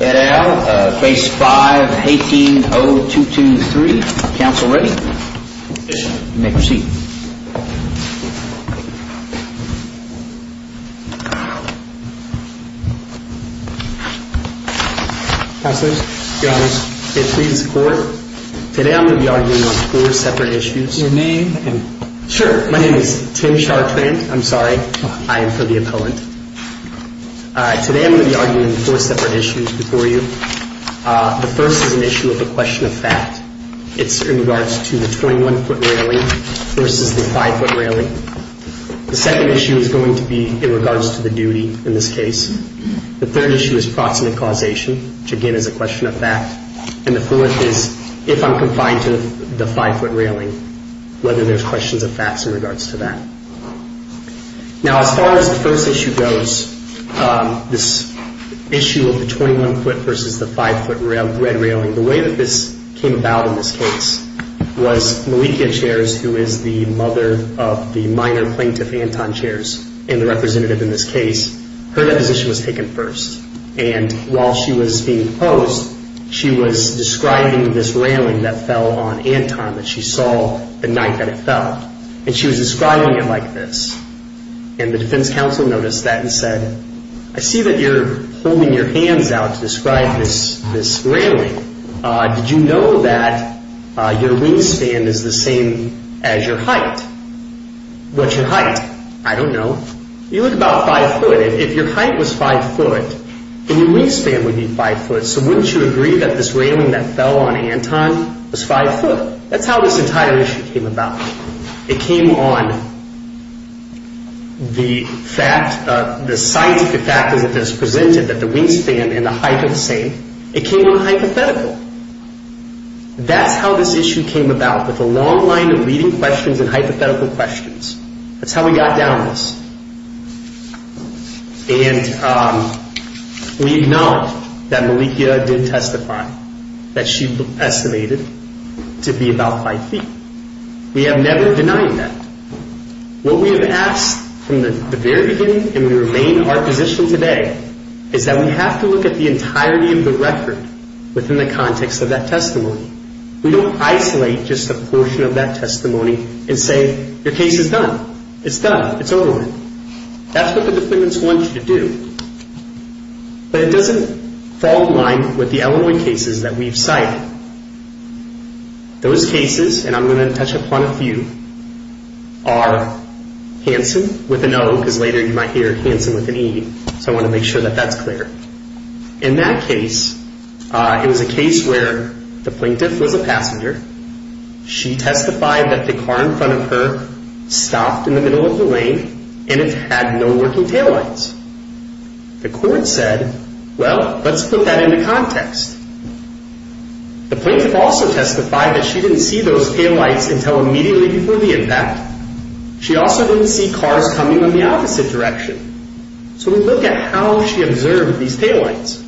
et al., Phase 5, 18-0223. Counsel ready? Yes, sir. Make your seat. Counselors? Your Honors. It pleases the Court. Today I'm going to be arguing on four separate issues. Your name is Tim Chartrand. I'm sorry. I am for the opponent. Today I'm going to be arguing on four separate issues before you. The first is an issue of a question of fact. It's in regards to the 21-foot railing versus the 5-foot railing. The second issue is going to be in regards to the duty in this case. The third issue is proximate causation, which again is a question of fact. And the fourth is if I'm confined to the 5-foot railing, whether there's questions of facts in regards to that. Now, as far as the first issue goes, this issue of the 21-foot versus the 5-foot red railing, the way that this came about in this case was Malika Chairs, who is the mother of the minor plaintiff, Anton Chairs, and the representative in this case, her deposition was taken first. And while she was being And she was describing it like this. And the defense counsel noticed that and said, I see that you're holding your hands out to describe this railing. Did you know that your wingspan is the same as your height? What's your height? I don't know. You look about 5 foot. If your height was 5 foot, then your wingspan would be 5 foot. So wouldn't you agree that this railing that fell on Anton was 5 foot? That's how this entire issue came about. It came on the fact, the scientific fact that is presented that the wingspan and the height are the same. It came on hypothetical. That's how this issue came about, with a long line of leading questions and hypothetical questions. That's how we got down this. And we acknowledge that Malika did testify, that she estimated to be about 5 feet. We have never denied that. What we have asked from the very beginning, and we remain in our position today, is that we have to look at the entirety of the record within the context of that testimony. We don't isolate just a portion of that testimony and say, your case is done. It's done. It's over with. That's what the defendants want you to do. But it doesn't fall in line with the Illinois cases that we've cited. Those cases, and I'm going to touch upon a few, are Hanson with an O, because later you might hear Hanson with an E, so I want to make sure that that's clear. In that case, it was a case where the plaintiff was a passenger. She testified that the car in front of her stopped in the middle of the lane, and it had no working taillights. The court said, well, let's put that into context. The plaintiff also testified that she didn't see those taillights until immediately before the impact. She also didn't see cars coming in the opposite direction. So we look at how she observed these taillights.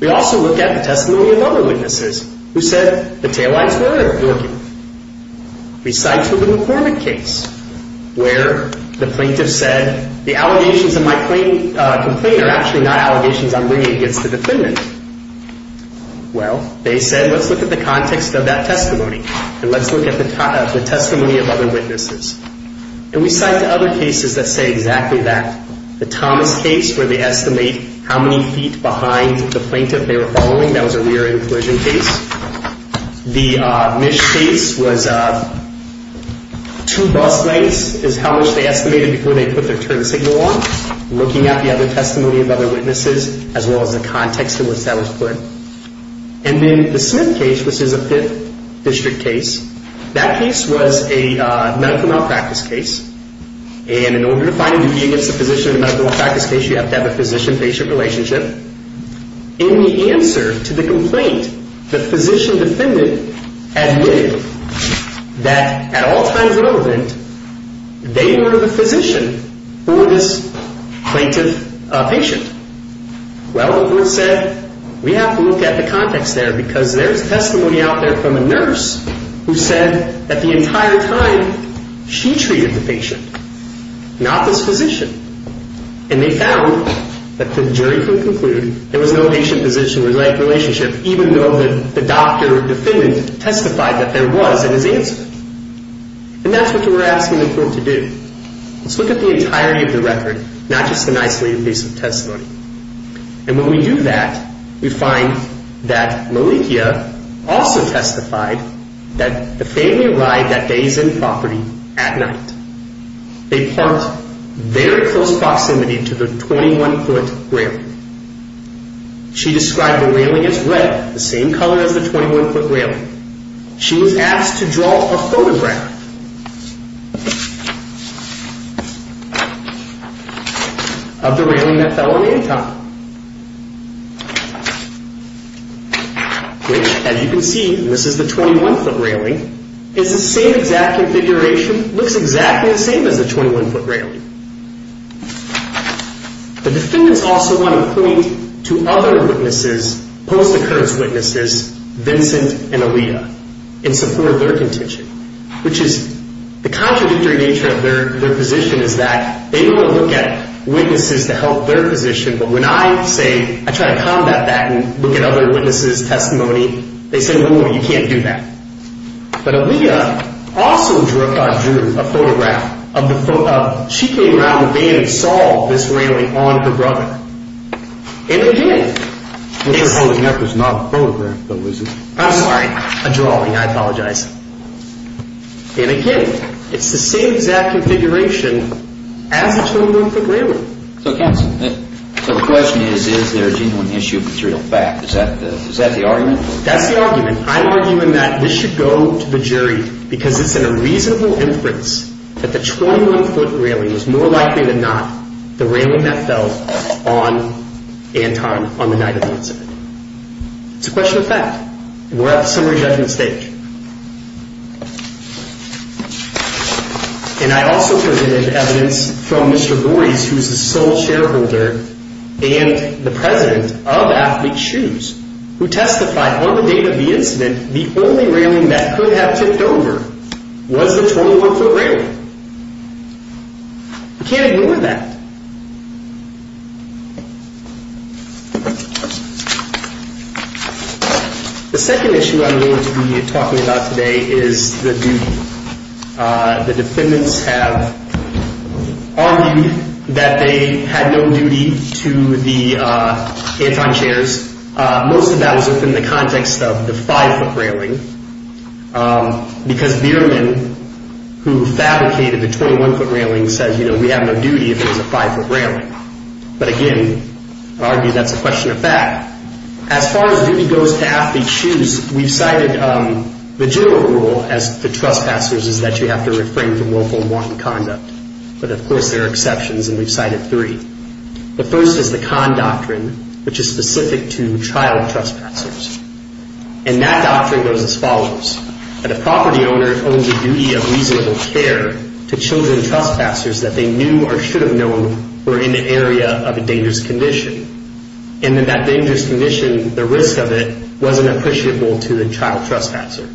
We also look at the testimony of other witnesses, who said, the taillights were working. We cite to the McCormick case, where the plaintiff said, the allegations in my complaint are actually not allegations I'm bringing against the defendant. Well, they said, let's look at the context of that testimony, and let's look at the testimony of other witnesses. And we cite to other cases that say exactly that. The Thomas case, where they estimate how many feet behind the plaintiff they were following. That was a rear end collision case. The Misch case was two bus lengths is how much they estimated before they put their turn signal on, looking at the other testimony of other witnesses, as well as the context in which that was put. And then the Smith case, which is a Fifth District case. That case was a medical malpractice case. And in order to find a newbie against a physician in a medical malpractice case, you have to have a physician-patient relationship. In the answer to the complaint, the physician defendant admitted that, at all times relevant, they were the physician for this plaintiff patient. Well, the court said, we have to look at the context there, because there is testimony out there from a nurse who said that the entire time, she treated the patient, not this physician. And they found that the jury could conclude there was no patient-physician relationship, even though the doctor defendant testified that there was in his answer. And that's what we're asking the court to do. Let's look at the entirety of the record, not just an isolated piece of testimony. And when we do that, we find that Malikia also described the railing as red, the same color as the 21-foot railing. She was asked to draw a photograph of the railing that fell on the end top. Which, as you can see, this is the 21-foot railing. It's the same exact configuration, looks exactly the same as the 21-foot railing. The defendants also want to point to other witnesses, post-occurrence witnesses, Vincent and Aliyah, in support of their contention, which is the contradictory nature of their position is that they want to look at witnesses to help their position, but when I say I try to combat that and look at other witnesses' testimony, they say, no, you can't do that. But Aliyah also drew a photograph. She came around the band and saw this railing on her brother. And again, it's the same exact configuration as the 21-foot railing. So the question is, is there a genuine issue of material fact? Is that the argument? That's the argument. I'm arguing that this should go to the jury because it's in a reasonable inference that the 21-foot railing was more likely than not the railing that fell on Anton on the night of the incident. It's a question of fact. We're at the summary judgment stage. And I also presented evidence from Mr. Gores, who's the sole shareholder, and the president of Athlete's Shoes, who testified on the date of the incident, the only railing that could have tipped over was the 21-foot railing. You can't ignore that. The second issue I'm going to be talking about today is the duty. The defendants have argued that they had no duty to the Anton chairs. Most of that was within the context of the 5-foot railing because Bierman, who fabricated the 21-foot railing, says we have no duty if it was a 5-foot railing. But again, I argue that's a question of fact. As far as duty goes to Athlete's Shoes, we've cited the general rule as the trespassers is that you have to refrain from willful and wanton conduct. But of course, there are exceptions, and we've cited three. The first is the Kahn Doctrine, which is specific to child trespassers. And that doctrine goes as follows. That a property owner owns a duty of reasonable care to children trespassers that they knew or should have known were in the area of a dangerous condition. And in that dangerous condition, the risk of it wasn't appreciable to the child trespasser.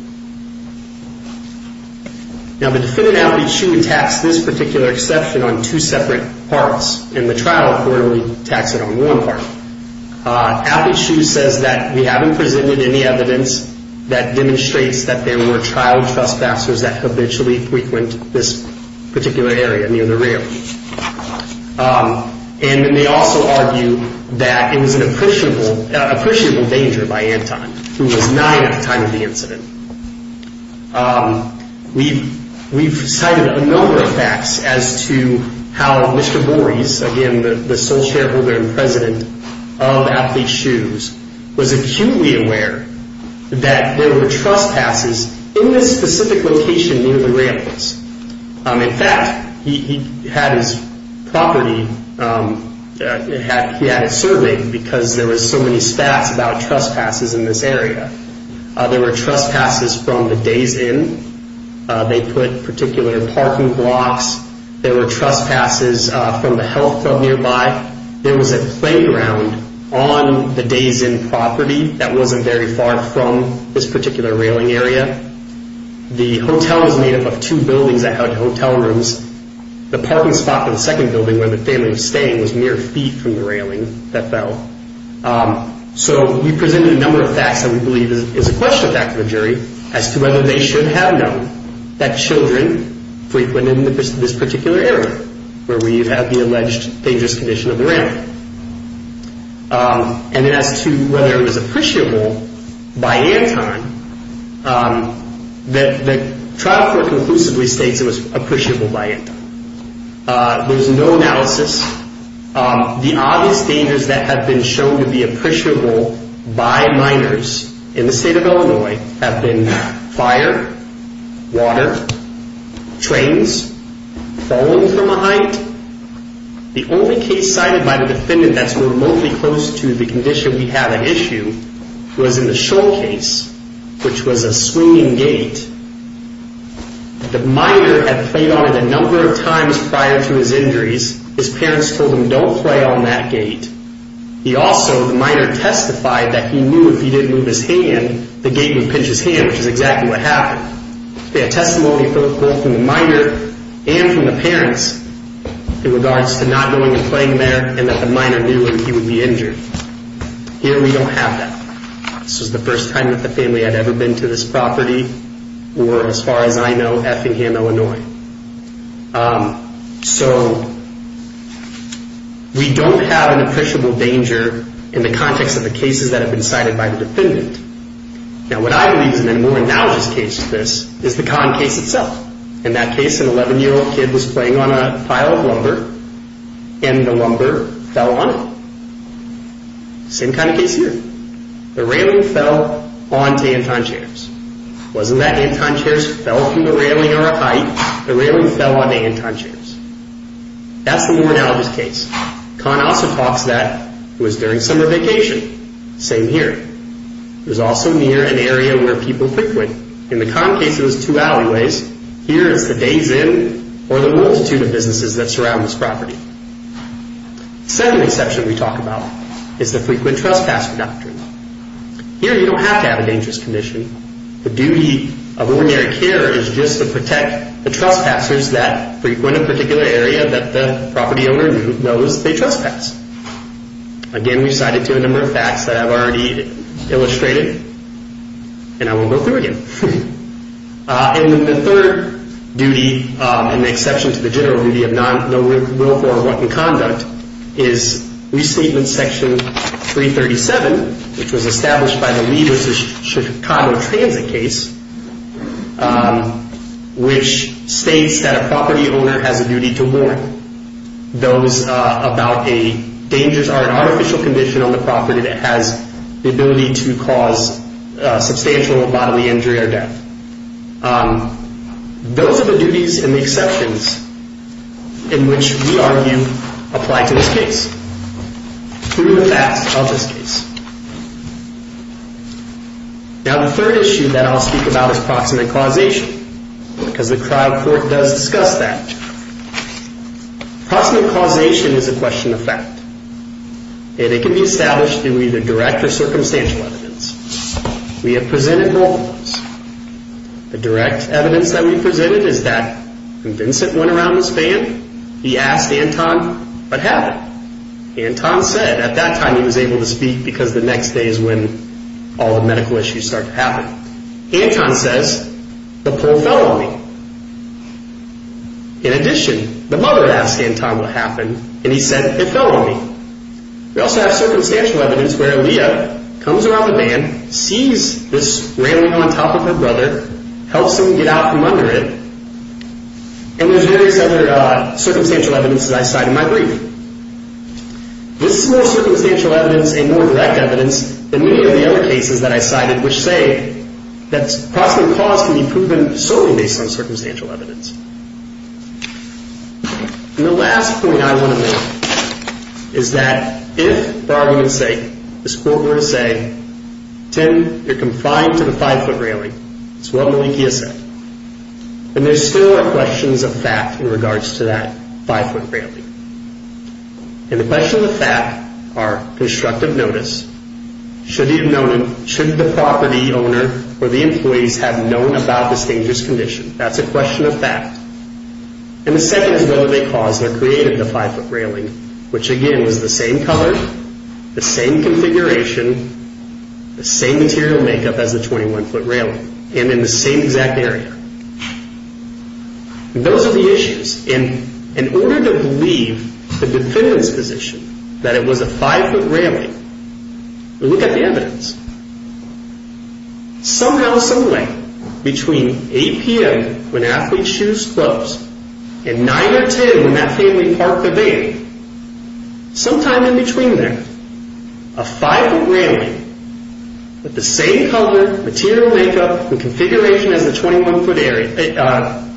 Now, the defendant, Athlete's Shoes, attacks this particular exception on two separate parts, and the trial accordingly attacks it on one part. Athlete's Shoes says that we haven't presented any evidence that demonstrates that there were child trespassers that habitually frequent this particular area near the railing. And then they also argue that it was an appreciable danger by Anton, who was nine at the time of the incident. We've cited a number of facts as to how Mr. Bores, again, the sole shareholder and president of Athlete's Shoes, was acutely aware that there were trespassers in this specific location near the railings. In fact, he had his property, he had it surveyed because there were so many stats about trespassers in this area. There were trespassers from the Days Inn. They put particular parking blocks. There were trespassers from the health club nearby. There was a playground on the Days Inn property that wasn't very far from this particular railing area. The hotel was made up of two buildings that had hotel rooms. The parking spot for the second building where the family was staying was mere feet from the railing that fell. So we've presented a number of facts that we believe is a questionable fact to the jury as to whether they should have known that children frequented this particular area where we have the alleged dangerous condition of the railing. And then as to whether it was appreciable by Anton, the trial court conclusively states it was appreciable by Anton. There's no analysis. The obvious dangers that have been shown to be appreciable by minors in the state of Illinois have been fire, water, trains falling from a height. The only case cited by the defendant that's remotely close to the condition we have at issue was in the Shoal Case, which was a swinging gate. The minor had played on it a number of times prior to his injuries. His parents told him don't play on that gate. He also, the minor, testified that he knew if he didn't move his hand, the gate would pinch his hand, which is exactly what happened. We have testimony both from the minor and from the parents in regards to not going and playing there and that the minor knew that he would be injured. Here we don't have that. This was the first time that the family had ever been to this property or as far as I know Effingham, Illinois. So we don't have an appreciable danger in the context of the cases that have been cited by the defendant. Now what I believe is in a more analogous case to this is the con case itself. In that case, an 11-year-old kid was playing on a pile of lumber and the lumber fell on it. Same kind of case here. The railing fell onto Anton chairs. It wasn't that Anton chairs fell from the railing or a height. The railing fell onto Anton chairs. That's the more analogous case. Con also talks that it was during summer vacation. Same here. It was also near an area where people frequent. In the con case, it was two alleyways. Here it's the days in or the multitude of businesses that surround this property. Second exception we talk about is the frequent trespasser doctrine. Here you don't have to have a dangerous condition. The duty of ordinary care is just to protect the trespassers that frequent a particular area that the property owner knows they trespass. Again, we cite it to a number of facts that I've already illustrated. And I won't go through again. And the third duty, an exception to the general duty of no will for or what in conduct, is Restatement Section 337, which was established by the leaders of Chicago Transit case, which states that a property owner has a duty to warn those about a dangerous or an artificial condition on the property that has the ability to cause substantial bodily injury or death. Those are the duties and the exceptions in which we argue apply to this case through the facts of this case. Now, the third issue that I'll speak about is Proximate Causation, because the trial court does discuss that. Proximate Causation is a question of fact. And it can be established through either direct or circumstantial evidence. We have presented both of those. The direct evidence that we've presented is that when Vincent went around this van, he asked Anton, Anton said at that time he was able to speak because the next day is when all the medical issues start to happen. Anton says the pole fell on me. In addition, the mother asked Anton what happened, and he said it fell on me. We also have circumstantial evidence where Leah comes around the van, sees this railing on top of her brother, helps him get out from under it, and there's various other circumstantial evidence that I cite in my brief. This is more circumstantial evidence and more direct evidence than many of the other cases that I cited, which say that proximate cause can be proven solely based on circumstantial evidence. And the last point I want to make is that if, for argument's sake, this court were to say, 10, you're confined to the five-foot railing, it's what Malikia said. And there still are questions of fact in regards to that five-foot railing. And the questions of fact are constructive notice. Should the property owner or the employees have known about this dangerous condition? That's a question of fact. And the second is whether they caused or created the five-foot railing, which, again, was the same color, the same configuration, the same material makeup as the 21-foot railing, and in the same exact area. Those are the issues. And in order to believe the defendant's position that it was a five-foot railing, look at the evidence. Somehow, someway, between 8 p.m. when athlete's shoes closed and 9 or 10 when that family parked the van, sometime in between there, a five-foot railing with the same color, material makeup, and configuration as the 21-foot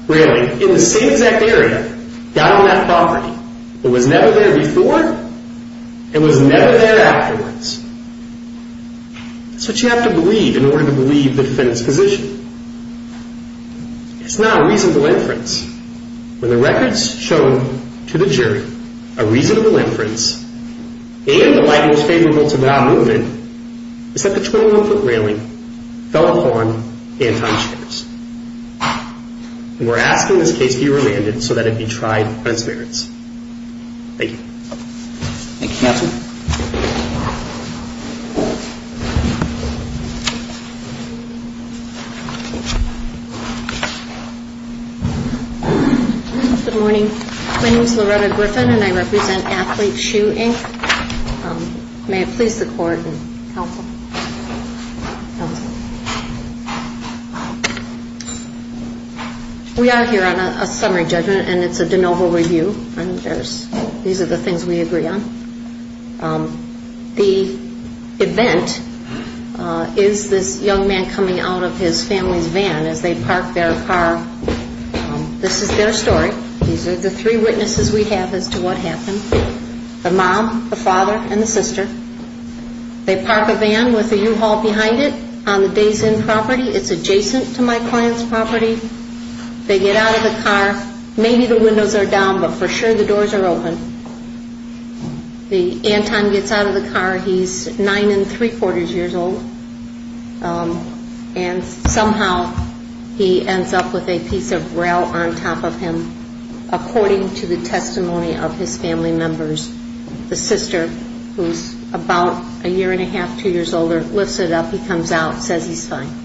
railing in the same exact area got on that property. It was never there before. It was never there afterwards. That's what you have to believe in order to believe the defendant's position. It's not a reasonable inference. When the record's shown to the jury, a reasonable inference, and the light was favorable to that movement is that the 21-foot railing fell upon Anton Scherz. And we're asking this case be remanded so that it be tried on its merits. Thank you. Thank you, counsel. Good morning. My name is Loretta Griffin, and I represent Athlete Shoe, Inc. May it please the Court and counsel. We are here on a summary judgment, and it's a de novo review. These are the things we agree on. The event is this young man coming out of his family's van as they park their car. This is their story. These are the three witnesses we have as to what happened, the mom, the father, and the sister. They park a van with a U-Haul behind it on the Days Inn property. It's adjacent to my client's property. They get out of the car. Maybe the windows are down, but for sure the doors are open. Anton gets out of the car. He's nine and three-quarters years old, and somehow he ends up with a piece of rail on top of him, according to the testimony of his family members. The sister, who's about a year and a half, two years older, lifts it up. He comes out and says he's fine.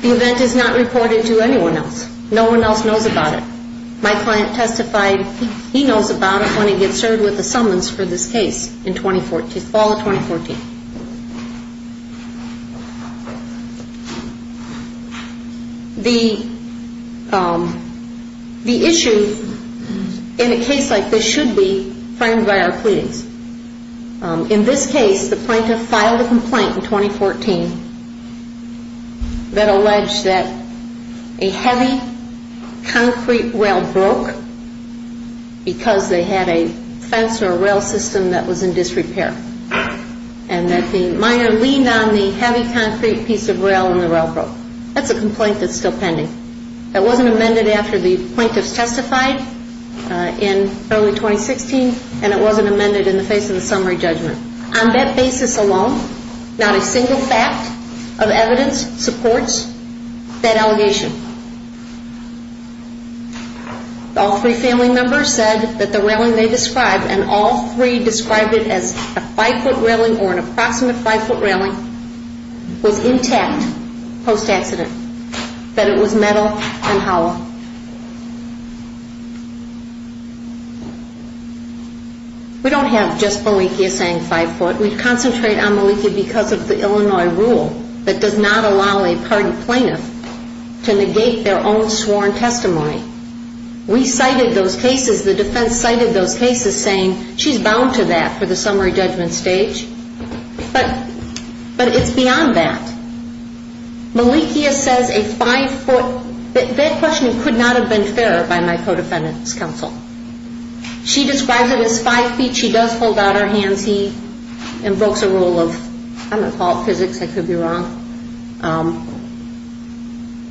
The event is not reported to anyone else. No one else knows about it. My client testified he knows about it when he gets served with a summons for this case in 2014, fall of 2014. The issue in a case like this should be framed by our pleadings. In this case, the plaintiff filed a complaint in 2014 that alleged that a heavy concrete rail broke because they had a fence or a rail system that was in disrepair, and that the miner leaned on the heavy concrete piece of rail and the rail broke. That's a complaint that's still pending. It wasn't amended after the plaintiff testified in early 2016, and it wasn't amended in the face of the summary judgment. On that basis alone, not a single fact of evidence supports that allegation. All three family members said that the railing they described, and all three described it as a five-foot railing or an approximate five-foot railing, was intact post-accident, that it was metal and hollow. We don't have just Malikia saying five-foot. We concentrate on Malikia because of the Illinois rule that does not allow a pardoned plaintiff to negate their own sworn testimony. We cited those cases. The defense cited those cases, saying she's bound to that for the summary judgment stage. But it's beyond that. Malikia says a five-foot. That question could not have been fair by my co-defendant's counsel. She describes it as five feet. She does hold out her hands. He invokes a rule of, I'm going to call it physics, I could be wrong.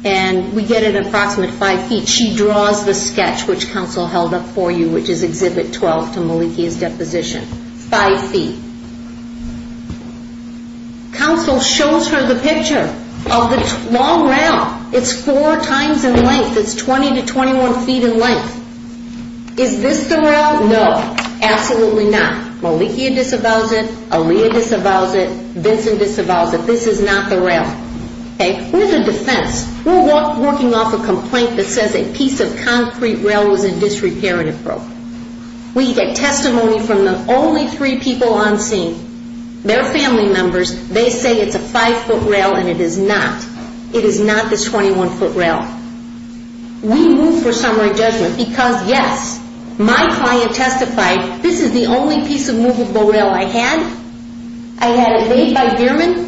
And we get an approximate five feet. She draws the sketch which counsel held up for you, which is Exhibit 12 to Malikia's deposition. Five feet. Counsel shows her the picture of the long rail. It's four times in length. It's 20 to 21 feet in length. Is this the rail? No, absolutely not. Malikia disavows it. Aaliyah disavows it. Vincent disavows it. This is not the rail. We're the defense. We're working off a complaint that says a piece of concrete rail was in disrepair and it broke. We get testimony from the only three people on scene, their family members. They say it's a five-foot rail, and it is not. It is not the 21-foot rail. We move for summary judgment because, yes, my client testified, this is the only piece of movable rail I had. I had it made by Gehrman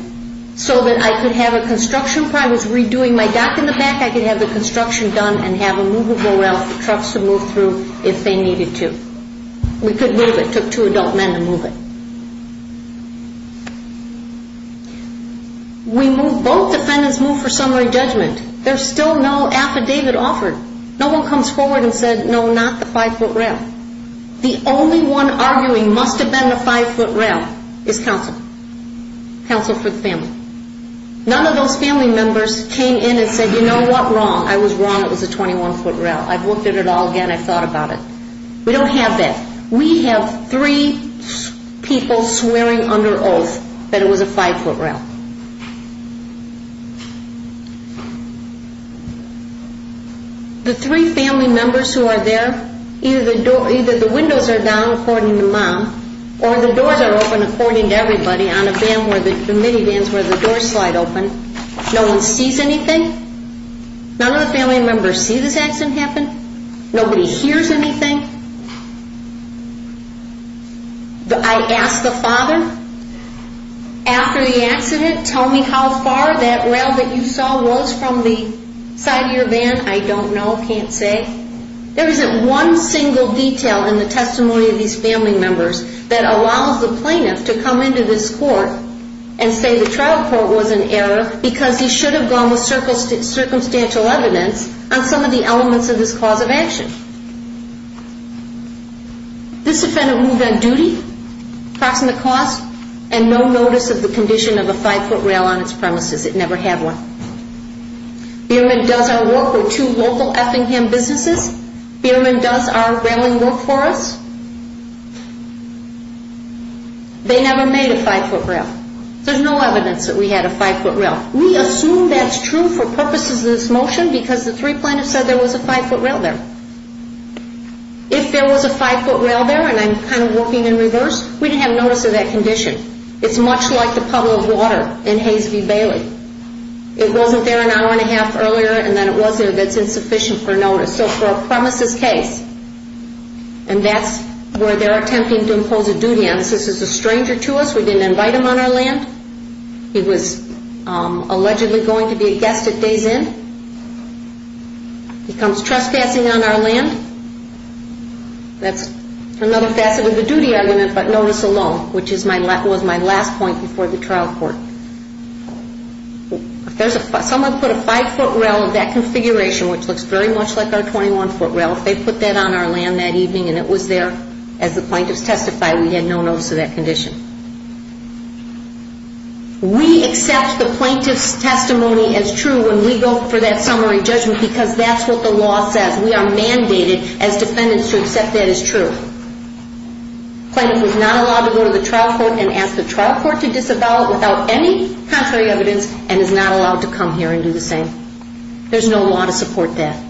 so that I could have a construction. If I was redoing my dock in the back, I could have the construction done and have a movable rail for trucks to move through if they needed to. We could move it. It took two adult men to move it. We move. Both defendants move for summary judgment. There's still no affidavit offered. No one comes forward and says, no, not the five-foot rail. The only one arguing must have been the five-foot rail is counsel, counsel for the family. None of those family members came in and said, you know what? Wrong. I was wrong. It was a 21-foot rail. I've looked at it all again. I've thought about it. We don't have that. We have three people swearing under oath that it was a five-foot rail. The three family members who are there, either the windows are down, according to mom, or the doors are open, according to everybody, on the minivans where the doors slide open. No one sees anything. None of the family members see this accident happen. Nobody hears anything. I asked the father, after the accident, tell me how far that rail that you saw was from the side of your van. I don't know. Can't say. There isn't one single detail in the testimony of these family members that allows the plaintiff to come into this court and say the trial court was in error because he should have gone with circumstantial evidence on some of the elements of this cause of action. This defendant moved on duty, proximate cause, and no notice of the condition of a five-foot rail on its premises. It never had one. Bierman does our work for two local Effingham businesses. Bierman does our railing work for us. They never made a five-foot rail. There's no evidence that we had a five-foot rail. We assume that's true for purposes of this motion because the three plaintiffs said there was a five-foot rail there. If there was a five-foot rail there, and I'm kind of working in reverse, we didn't have notice of that condition. It's much like the puddle of water in Hays v. Bailey. It wasn't there an hour and a half earlier, and then it was there. That's insufficient for notice. So for a premises case, and that's where they're attempting to impose a duty on us. This is a stranger to us. We didn't invite him on our land. He was allegedly going to be a guest at day's end. He comes trespassing on our land. That's another facet of the duty argument, but notice alone, which was my last point before the trial court. If someone put a five-foot rail in that configuration, which looks very much like our 21-foot rail, if they put that on our land that evening and it was there, as the plaintiffs testified, we had no notice of that condition. We accept the plaintiff's testimony as true when we go for that summary judgment because that's what the law says. We are mandated as defendants to accept that as true. The plaintiff was not allowed to go to the trial court and ask the trial court to disavow it without any contrary evidence and is not allowed to come here and do the same. There's no law to support that.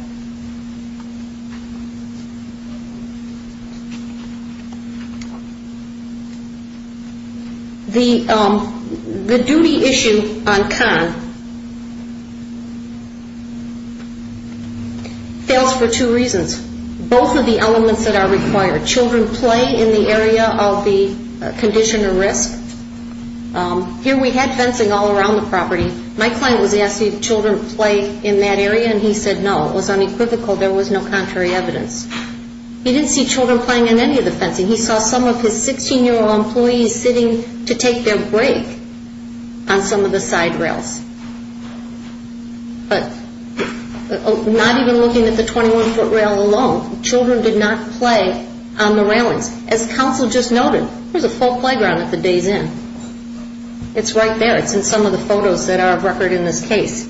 The duty issue on Kahn fails for two reasons. Both are the elements that are required. Children play in the area of the condition or risk. Here we had fencing all around the property. My client was asking if children play in that area, and he said no. It was unequivocal. There was no contrary evidence. He didn't see children playing in any of the fencing. He saw some of his 16-year-old employees sitting to take their break on some of the side rails. But not even looking at the 21-foot rail alone, children did not play on the railings. As counsel just noted, there's a full playground at the day's end. It's right there. It's in some of the photos that are of record in this case.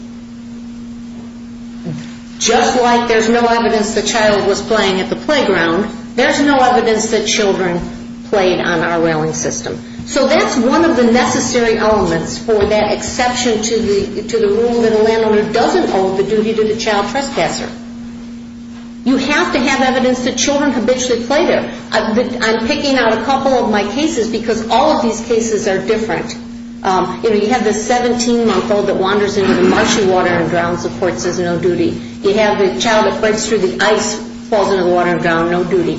Just like there's no evidence the child was playing at the playground, there's no evidence that children played on our railing system. So that's one of the necessary elements for that exception to the rule that a landowner doesn't owe the duty to the child trespasser. You have to have evidence that children habitually play there. I'm picking out a couple of my cases because all of these cases are different. You have the 17-month-old that wanders into the marshy water and drowns. The court says no duty. You have the child that breaks through the ice, falls into the water and drowns. No duty.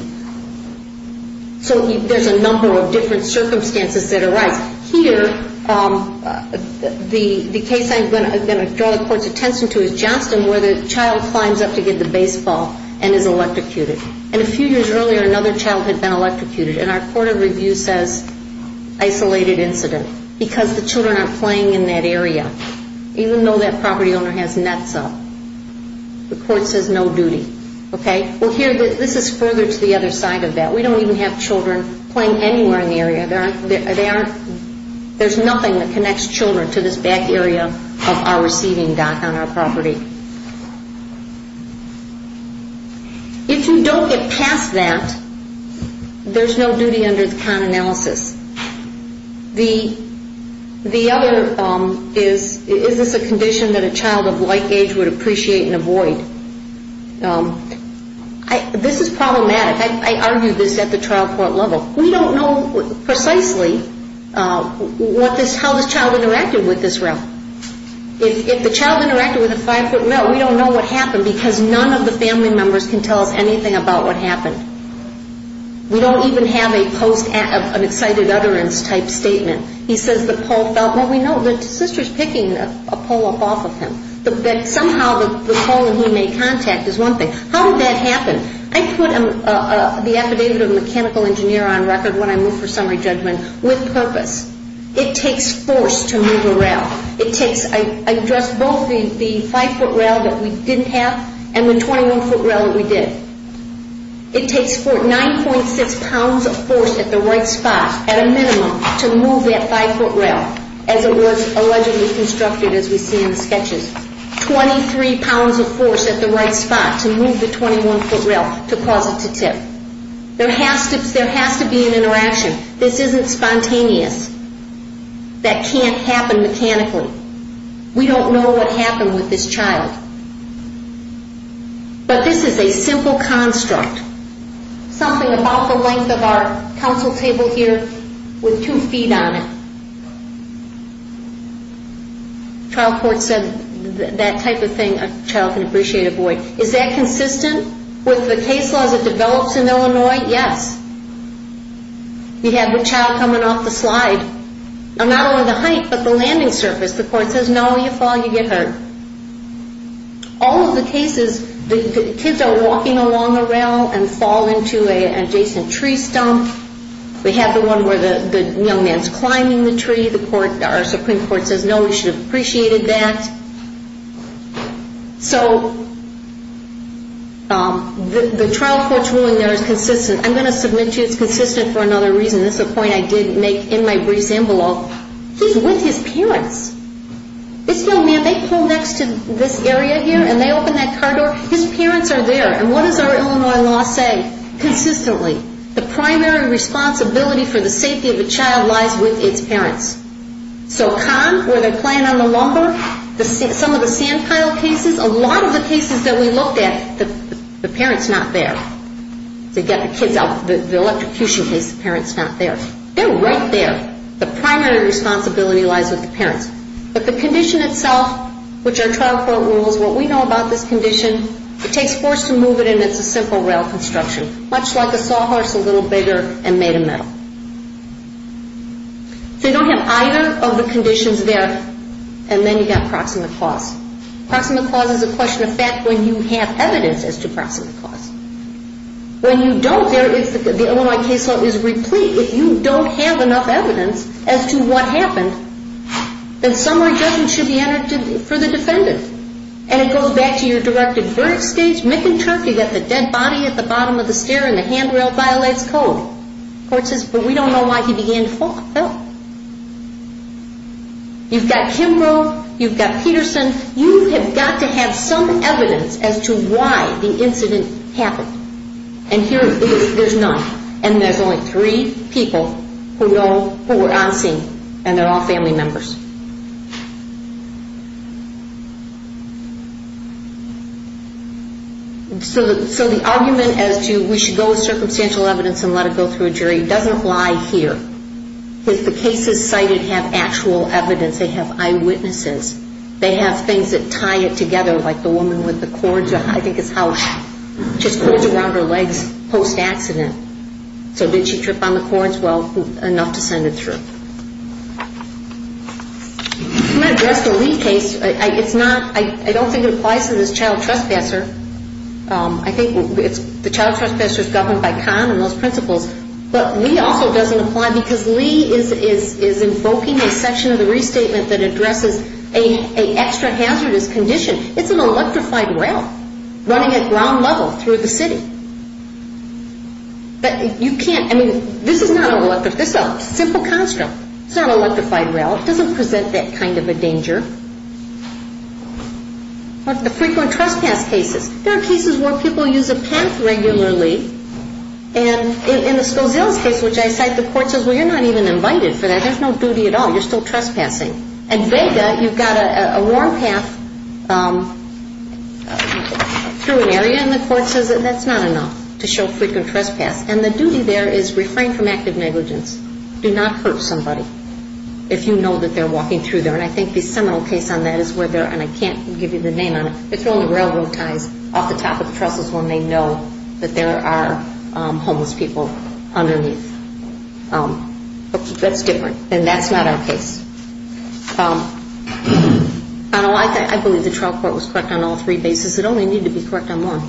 So there's a number of different circumstances that arise. Here, the case I'm going to draw the court's attention to is Johnston, where the child climbs up to get the baseball and is electrocuted. And a few years earlier, another child had been electrocuted. And our court of review says isolated incident because the children aren't playing in that area, even though that property owner has nets up. The court says no duty. Well, here, this is further to the other side of that. We don't even have children playing anywhere in the area. There's nothing that connects children to this back area of our receiving dock on our property. If you don't get past that, there's no duty under the con analysis. The other is, is this a condition that a child of like age would appreciate and avoid? This is problematic. I argue this at the trial court level. We don't know precisely how this child interacted with this realm. If the child interacted with a five-foot mill, we don't know what happened because none of the family members can tell us anything about what happened. We don't even have a post of an excited utterance type statement. He says the pole fell. Well, we know that the sister's picking a pole up off of him. That somehow the pole he made contact is one thing. How did that happen? I put the affidavit of a mechanical engineer on record when I move for summary judgment with purpose. It takes force to move a rail. I addressed both the five-foot rail that we didn't have and the 21-foot rail that we did. It takes 9.6 pounds of force at the right spot at a minimum to move that five-foot rail as it was allegedly constructed as we see in the sketches. 23 pounds of force at the right spot to move the 21-foot rail to cause it to tip. There has to be an interaction. This isn't spontaneous. That can't happen mechanically. We don't know what happened with this child. But this is a simple construct. Something about the length of our council table here with two feet on it. Trial court said that type of thing a child can appreciate a boy. Is that consistent with the case laws that develops in Illinois? At this point, yes. You have a child coming off the slide. Not only the height, but the landing surface. The court says, no, you fall, you get hurt. All of the cases, the kids are walking along the rail and fall into an adjacent tree stump. We have the one where the young man is climbing the tree. Our Supreme Court says, no, you should have appreciated that. So the trial court's ruling there is consistent. I'm going to submit to you it's consistent for another reason. This is a point I did make in my briefs envelope. He's with his parents. This young man, they pull next to this area here and they open that car door. His parents are there. And what does our Illinois law say? Consistently, the primary responsibility for the safety of a child lies with its parents. So con, where they're playing on the lumber, some of the sand pile cases, a lot of the cases that we looked at, the parent's not there. They get the kids out. The electrocution case, the parent's not there. They're right there. The primary responsibility lies with the parents. But the condition itself, which our trial court rules, what we know about this condition, it takes force to move it and it's a simple rail construction, much like a sawhorse a little bigger and made of metal. So you don't have either of the conditions there and then you've got proximate cause. Proximate cause is a question of fact when you have evidence as to proximate cause. When you don't, the Illinois case law is replete. If you don't have enough evidence as to what happened, then summary judgment should be entered for the defendant. And it goes back to your directed verdict stage. McInturff, you've got the dead body at the bottom of the stair and the handrail violates code. Court says, but we don't know why he began to fall. You've got Kimbrough. You've got Peterson. You have got to have some evidence as to why the incident happened. And here there's none. And there's only three people who know who were on scene, and they're all family members. So the argument as to we should go with circumstantial evidence and let it go through a jury doesn't lie here. Because the cases cited have actual evidence. They have eyewitnesses. They have things that tie it together, like the woman with the cords. I think it's how she just pulled it around her legs post-accident. So did she trip on the cords? Well, enough to send it through. I'm going to address the Lee case. I don't think it applies to this child trespasser. I think the child trespasser is governed by con and those principles. But Lee also doesn't apply because Lee is invoking a section of the restatement that addresses an extra hazardous condition. It's an electrified rail running at ground level through the city. But you can't, I mean, this is not an electric, this is a simple construct. It's not an electrified rail. It doesn't present that kind of a danger. The frequent trespass cases. There are cases where people use a path regularly. And in the Scozilla's case, which I cite, the court says, well, you're not even invited for that. There's no duty at all. You're still trespassing. At Vega, you've got a warm path through an area, and the court says that's not enough to show frequent trespass. And the duty there is refrain from active negligence. Do not hurt somebody if you know that they're walking through there. And I think the seminal case on that is where they're, and I can't give you the name on it, they're throwing railroad ties off the top of the trestles when they know that there are homeless people underneath. That's different. And that's not our case. I believe the trial court was correct on all three bases. It only needed to be correct on one.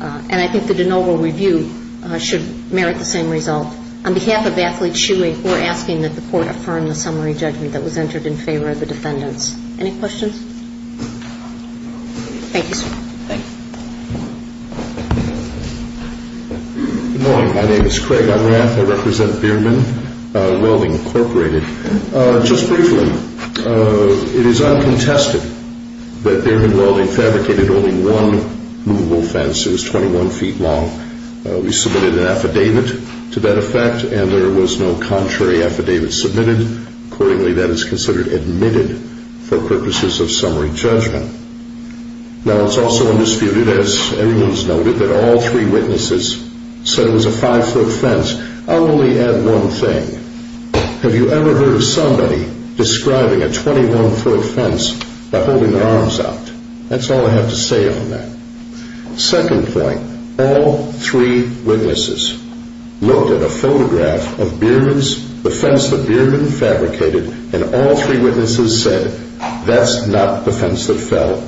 And I think the de novo review should merit the same result. On behalf of Athlete Chewy, we're asking that the court affirm the summary judgment that was entered in favor of the defendants. Any questions? Thank you, sir. Thank you. Good morning. My name is Craig Unrath. I represent Beardman Welding, Incorporated. Just briefly, it is uncontested that Beardman Welding fabricated only one movable fence. It was 21 feet long. We submitted an affidavit to that effect, and there was no contrary affidavit submitted. Accordingly, that is considered admitted for purposes of summary judgment. Now, it's also undisputed, as everyone's noted, that all three witnesses said it was a five-foot fence. I'll only add one thing. Have you ever heard of somebody describing a 21-foot fence by holding their arms out? That's all I have to say on that. Second point, all three witnesses looked at a photograph of the fence that Beardman fabricated, and all three witnesses said that's not the fence that fell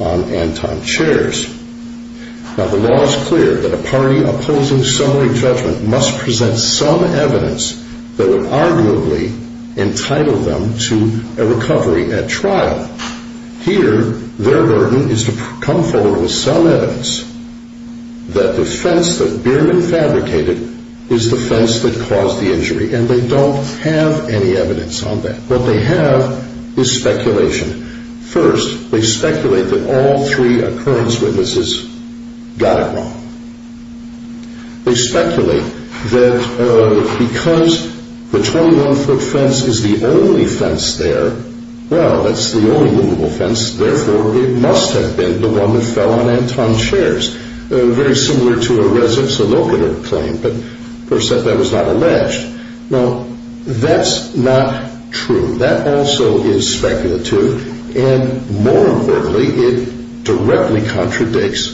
on Anton Chairs. Now, the law is clear that a party opposing summary judgment must present some evidence that would arguably entitle them to a recovery at trial. Here, their burden is to come forward with some evidence that the fence that Beardman fabricated is the fence that caused the injury, and they don't have any evidence on that. What they have is speculation. First, they speculate that all three occurrence witnesses got it wrong. They speculate that because the 21-foot fence is the only fence there, well, that's the only movable fence, therefore it must have been the one that fell on Anton Chairs, very similar to a Res Ops allocator claim, but, of course, that was not alleged. Now, that's not true. That also is speculative, and more importantly, it directly contradicts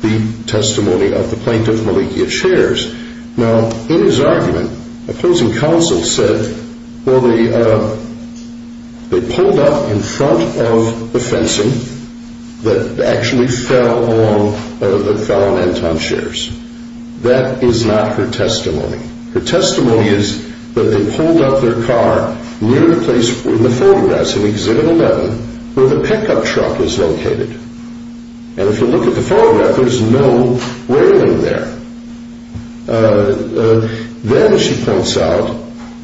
the testimony of the plaintiff, Malikia Chairs. Now, in his argument, opposing counsel said, well, they pulled up in front of the fencing that actually fell on Anton Chairs. That is not her testimony. Her testimony is that they pulled up their car near the place in the photographs in Exhibit 11 where the pickup truck is located, and if you look at the photograph, there's no railing there. Then she points out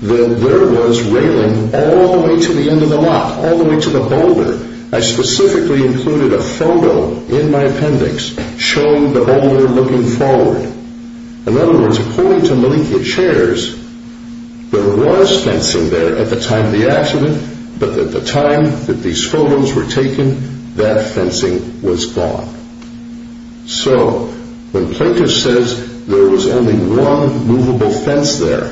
that there was railing all the way to the end of the lot, all the way to the boulder. I specifically included a photo in my appendix showing the boulder looking forward. In other words, according to Malikia Chairs, there was fencing there at the time of the accident, but at the time that these photos were taken, that fencing was gone. So when plaintiff says there was only one movable fence there,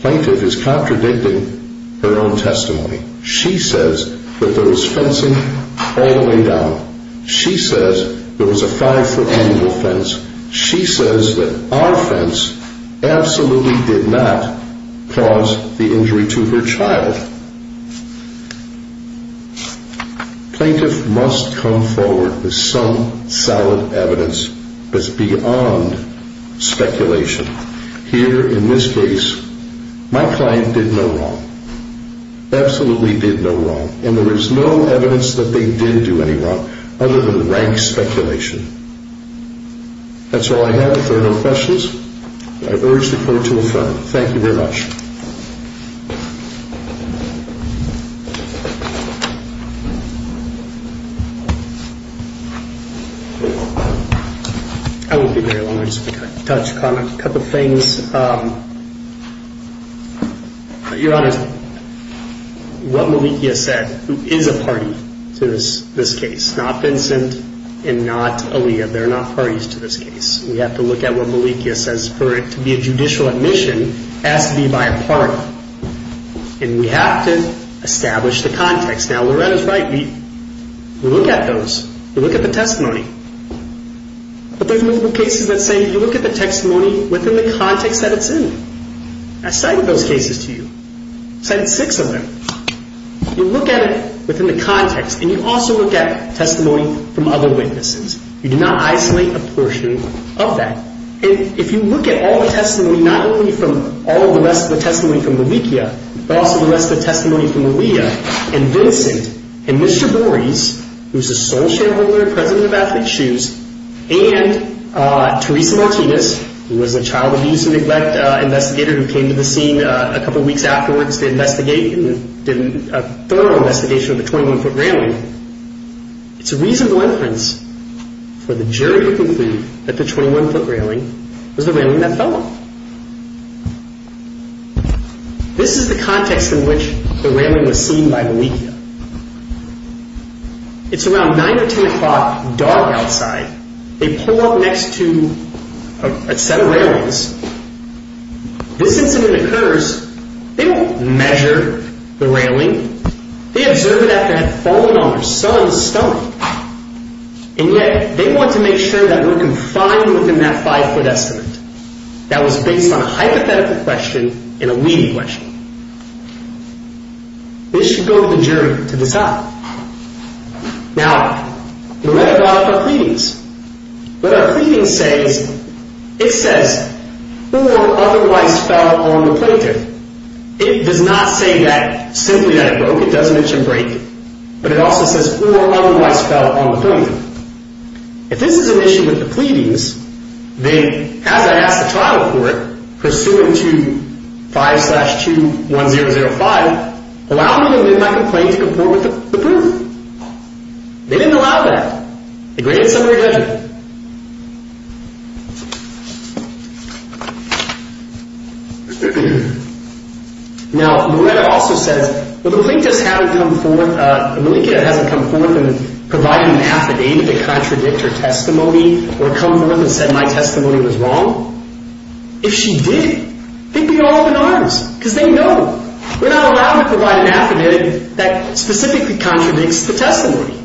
plaintiff is contradicting her own testimony. She says that there was fencing all the way down. She says there was a five-foot movable fence. She says that our fence absolutely did not cause the injury to her child. Plaintiff must come forward with some solid evidence that's beyond speculation. Here, in this case, my client did no wrong, absolutely did no wrong, and there is no evidence that they did do any wrong other than rank speculation. That's all I have. If there are no questions, I urge the Court to adjourn. Thank you very much. I won't be very long. I just want to touch upon a couple of things. Your Honor, what Malikia said, who is a party to this case, not Vincent and not Aliyah, they're not parties to this case. We have to look at what Malikia says. For it to be a judicial admission, it has to be by a party. And we have to establish the context. Now, Loretta's right. We look at those. We look at the testimony. But there's multiple cases that say you look at the testimony within the context that it's in. I cited those cases to you. I cited six of them. You look at it within the context, and you also look at testimony from other witnesses. You do not isolate a portion of that. And if you look at all the testimony, not only from all the rest of the testimony from Malikia, but also the rest of the testimony from Aliyah and Vincent and Mr. Bores, who's the sole shareholder and president of Athlete's Shoes, and Teresa Martinez, who was a child abuse and neglect investigator who came to the scene a couple weeks afterwards to investigate and did a thorough investigation of the 21-foot railing, it's a reasonable inference for the jury to conclude that the 21-foot railing was the railing that fell off. This is the context in which the railing was seen by Malikia. It's around 9 or 10 o'clock, dark outside. They pull up next to a set of railings. This incident occurs. They won't measure the railing. They observe it after it had fallen on their son's stomach. And yet, they want to make sure that we're confined within that 5-foot estimate. That was based on a hypothetical question and a leading question. This should go to the jury to decide. Now, we read about it in our pleadings. What our pleading says, it says, or otherwise fell on the plaintiff. It does not say that simply that it broke. It doesn't mention break. But it also says, or otherwise fell on the plaintiff. If this is an issue with the pleadings, then as I ask the trial court, pursuant to 5-2-1-0-0-5, allow me to live my complaint to come forth with the proof. They didn't allow that. The gradient summary doesn't. Now, Loretta also says, if the plaintiff hasn't come forth, Malikia hasn't come forth and provided an affidavit to contradict her testimony, or come forth and said my testimony was wrong, if she did, they'd be all in arms. Because they know. We're not allowed to provide an affidavit that specifically contradicts the testimony.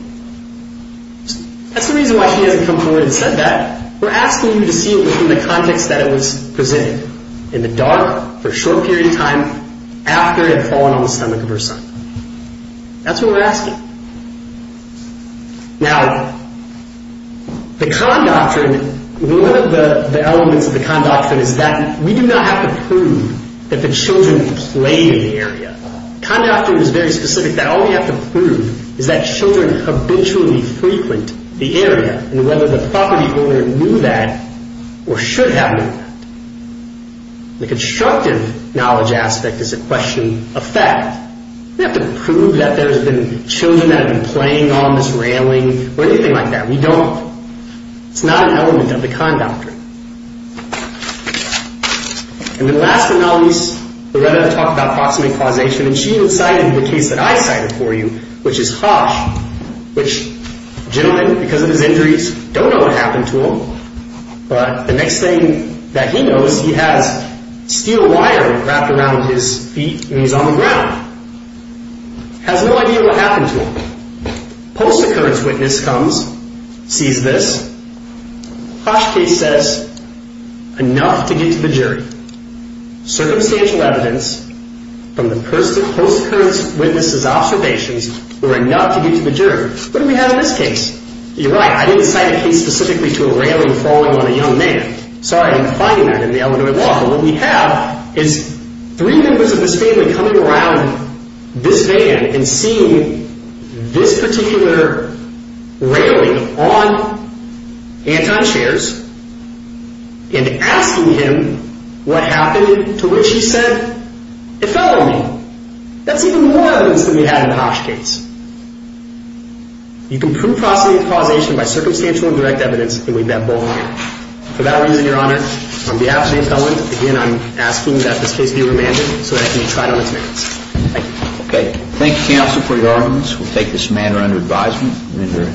That's the reason why she hasn't come forth and said that. We're asking you to see it within the context that it was presented. In the dark, for a short period of time, after it had fallen on the stomach of her son. That's what we're asking. Now, the Kahn Doctrine, one of the elements of the Kahn Doctrine is that we do not have to prove that the children played in the area. The Kahn Doctrine is very specific that all we have to prove is that children habitually frequent the area, and whether the property owner knew that, or should have known that. The constructive knowledge aspect is a question of fact. We have to prove that there have been children that have been playing on this railing, or anything like that. We don't. It's not an element of the Kahn Doctrine. And the last analogies, Loretta talked about proximate causation, and she cited the case that I cited for you, which is Hosch. Which, gentlemen, because of his injuries, don't know what happened to him. But the next thing that he knows, he has steel wire wrapped around his feet, and he's on the ground. Has no idea what happened to him. Post-occurrence witness comes, sees this. Hosch case says, enough to get to the jury. Circumstantial evidence from the post-occurrence witness' observations were enough to get to the jury. What do we have in this case? You're right. I didn't cite a case specifically to a railing falling on a young man. Sorry, I didn't find that in the Illinois law. But what we have is three members of this family coming around this van and seeing this particular railing on Anton Scherz and asking him what happened to which he said, it fell on me. That's even more evidence than we had in the Hosch case. You can prove proximate causation by circumstantial and direct evidence, and we bet both on that. For that reason, Your Honor, on behalf of James Dillon, again, I'm asking that this case be remanded so that it can be tried on its merits. Thank you. Okay. Thank you, counsel, for your arguments. We'll take this matter under advisement.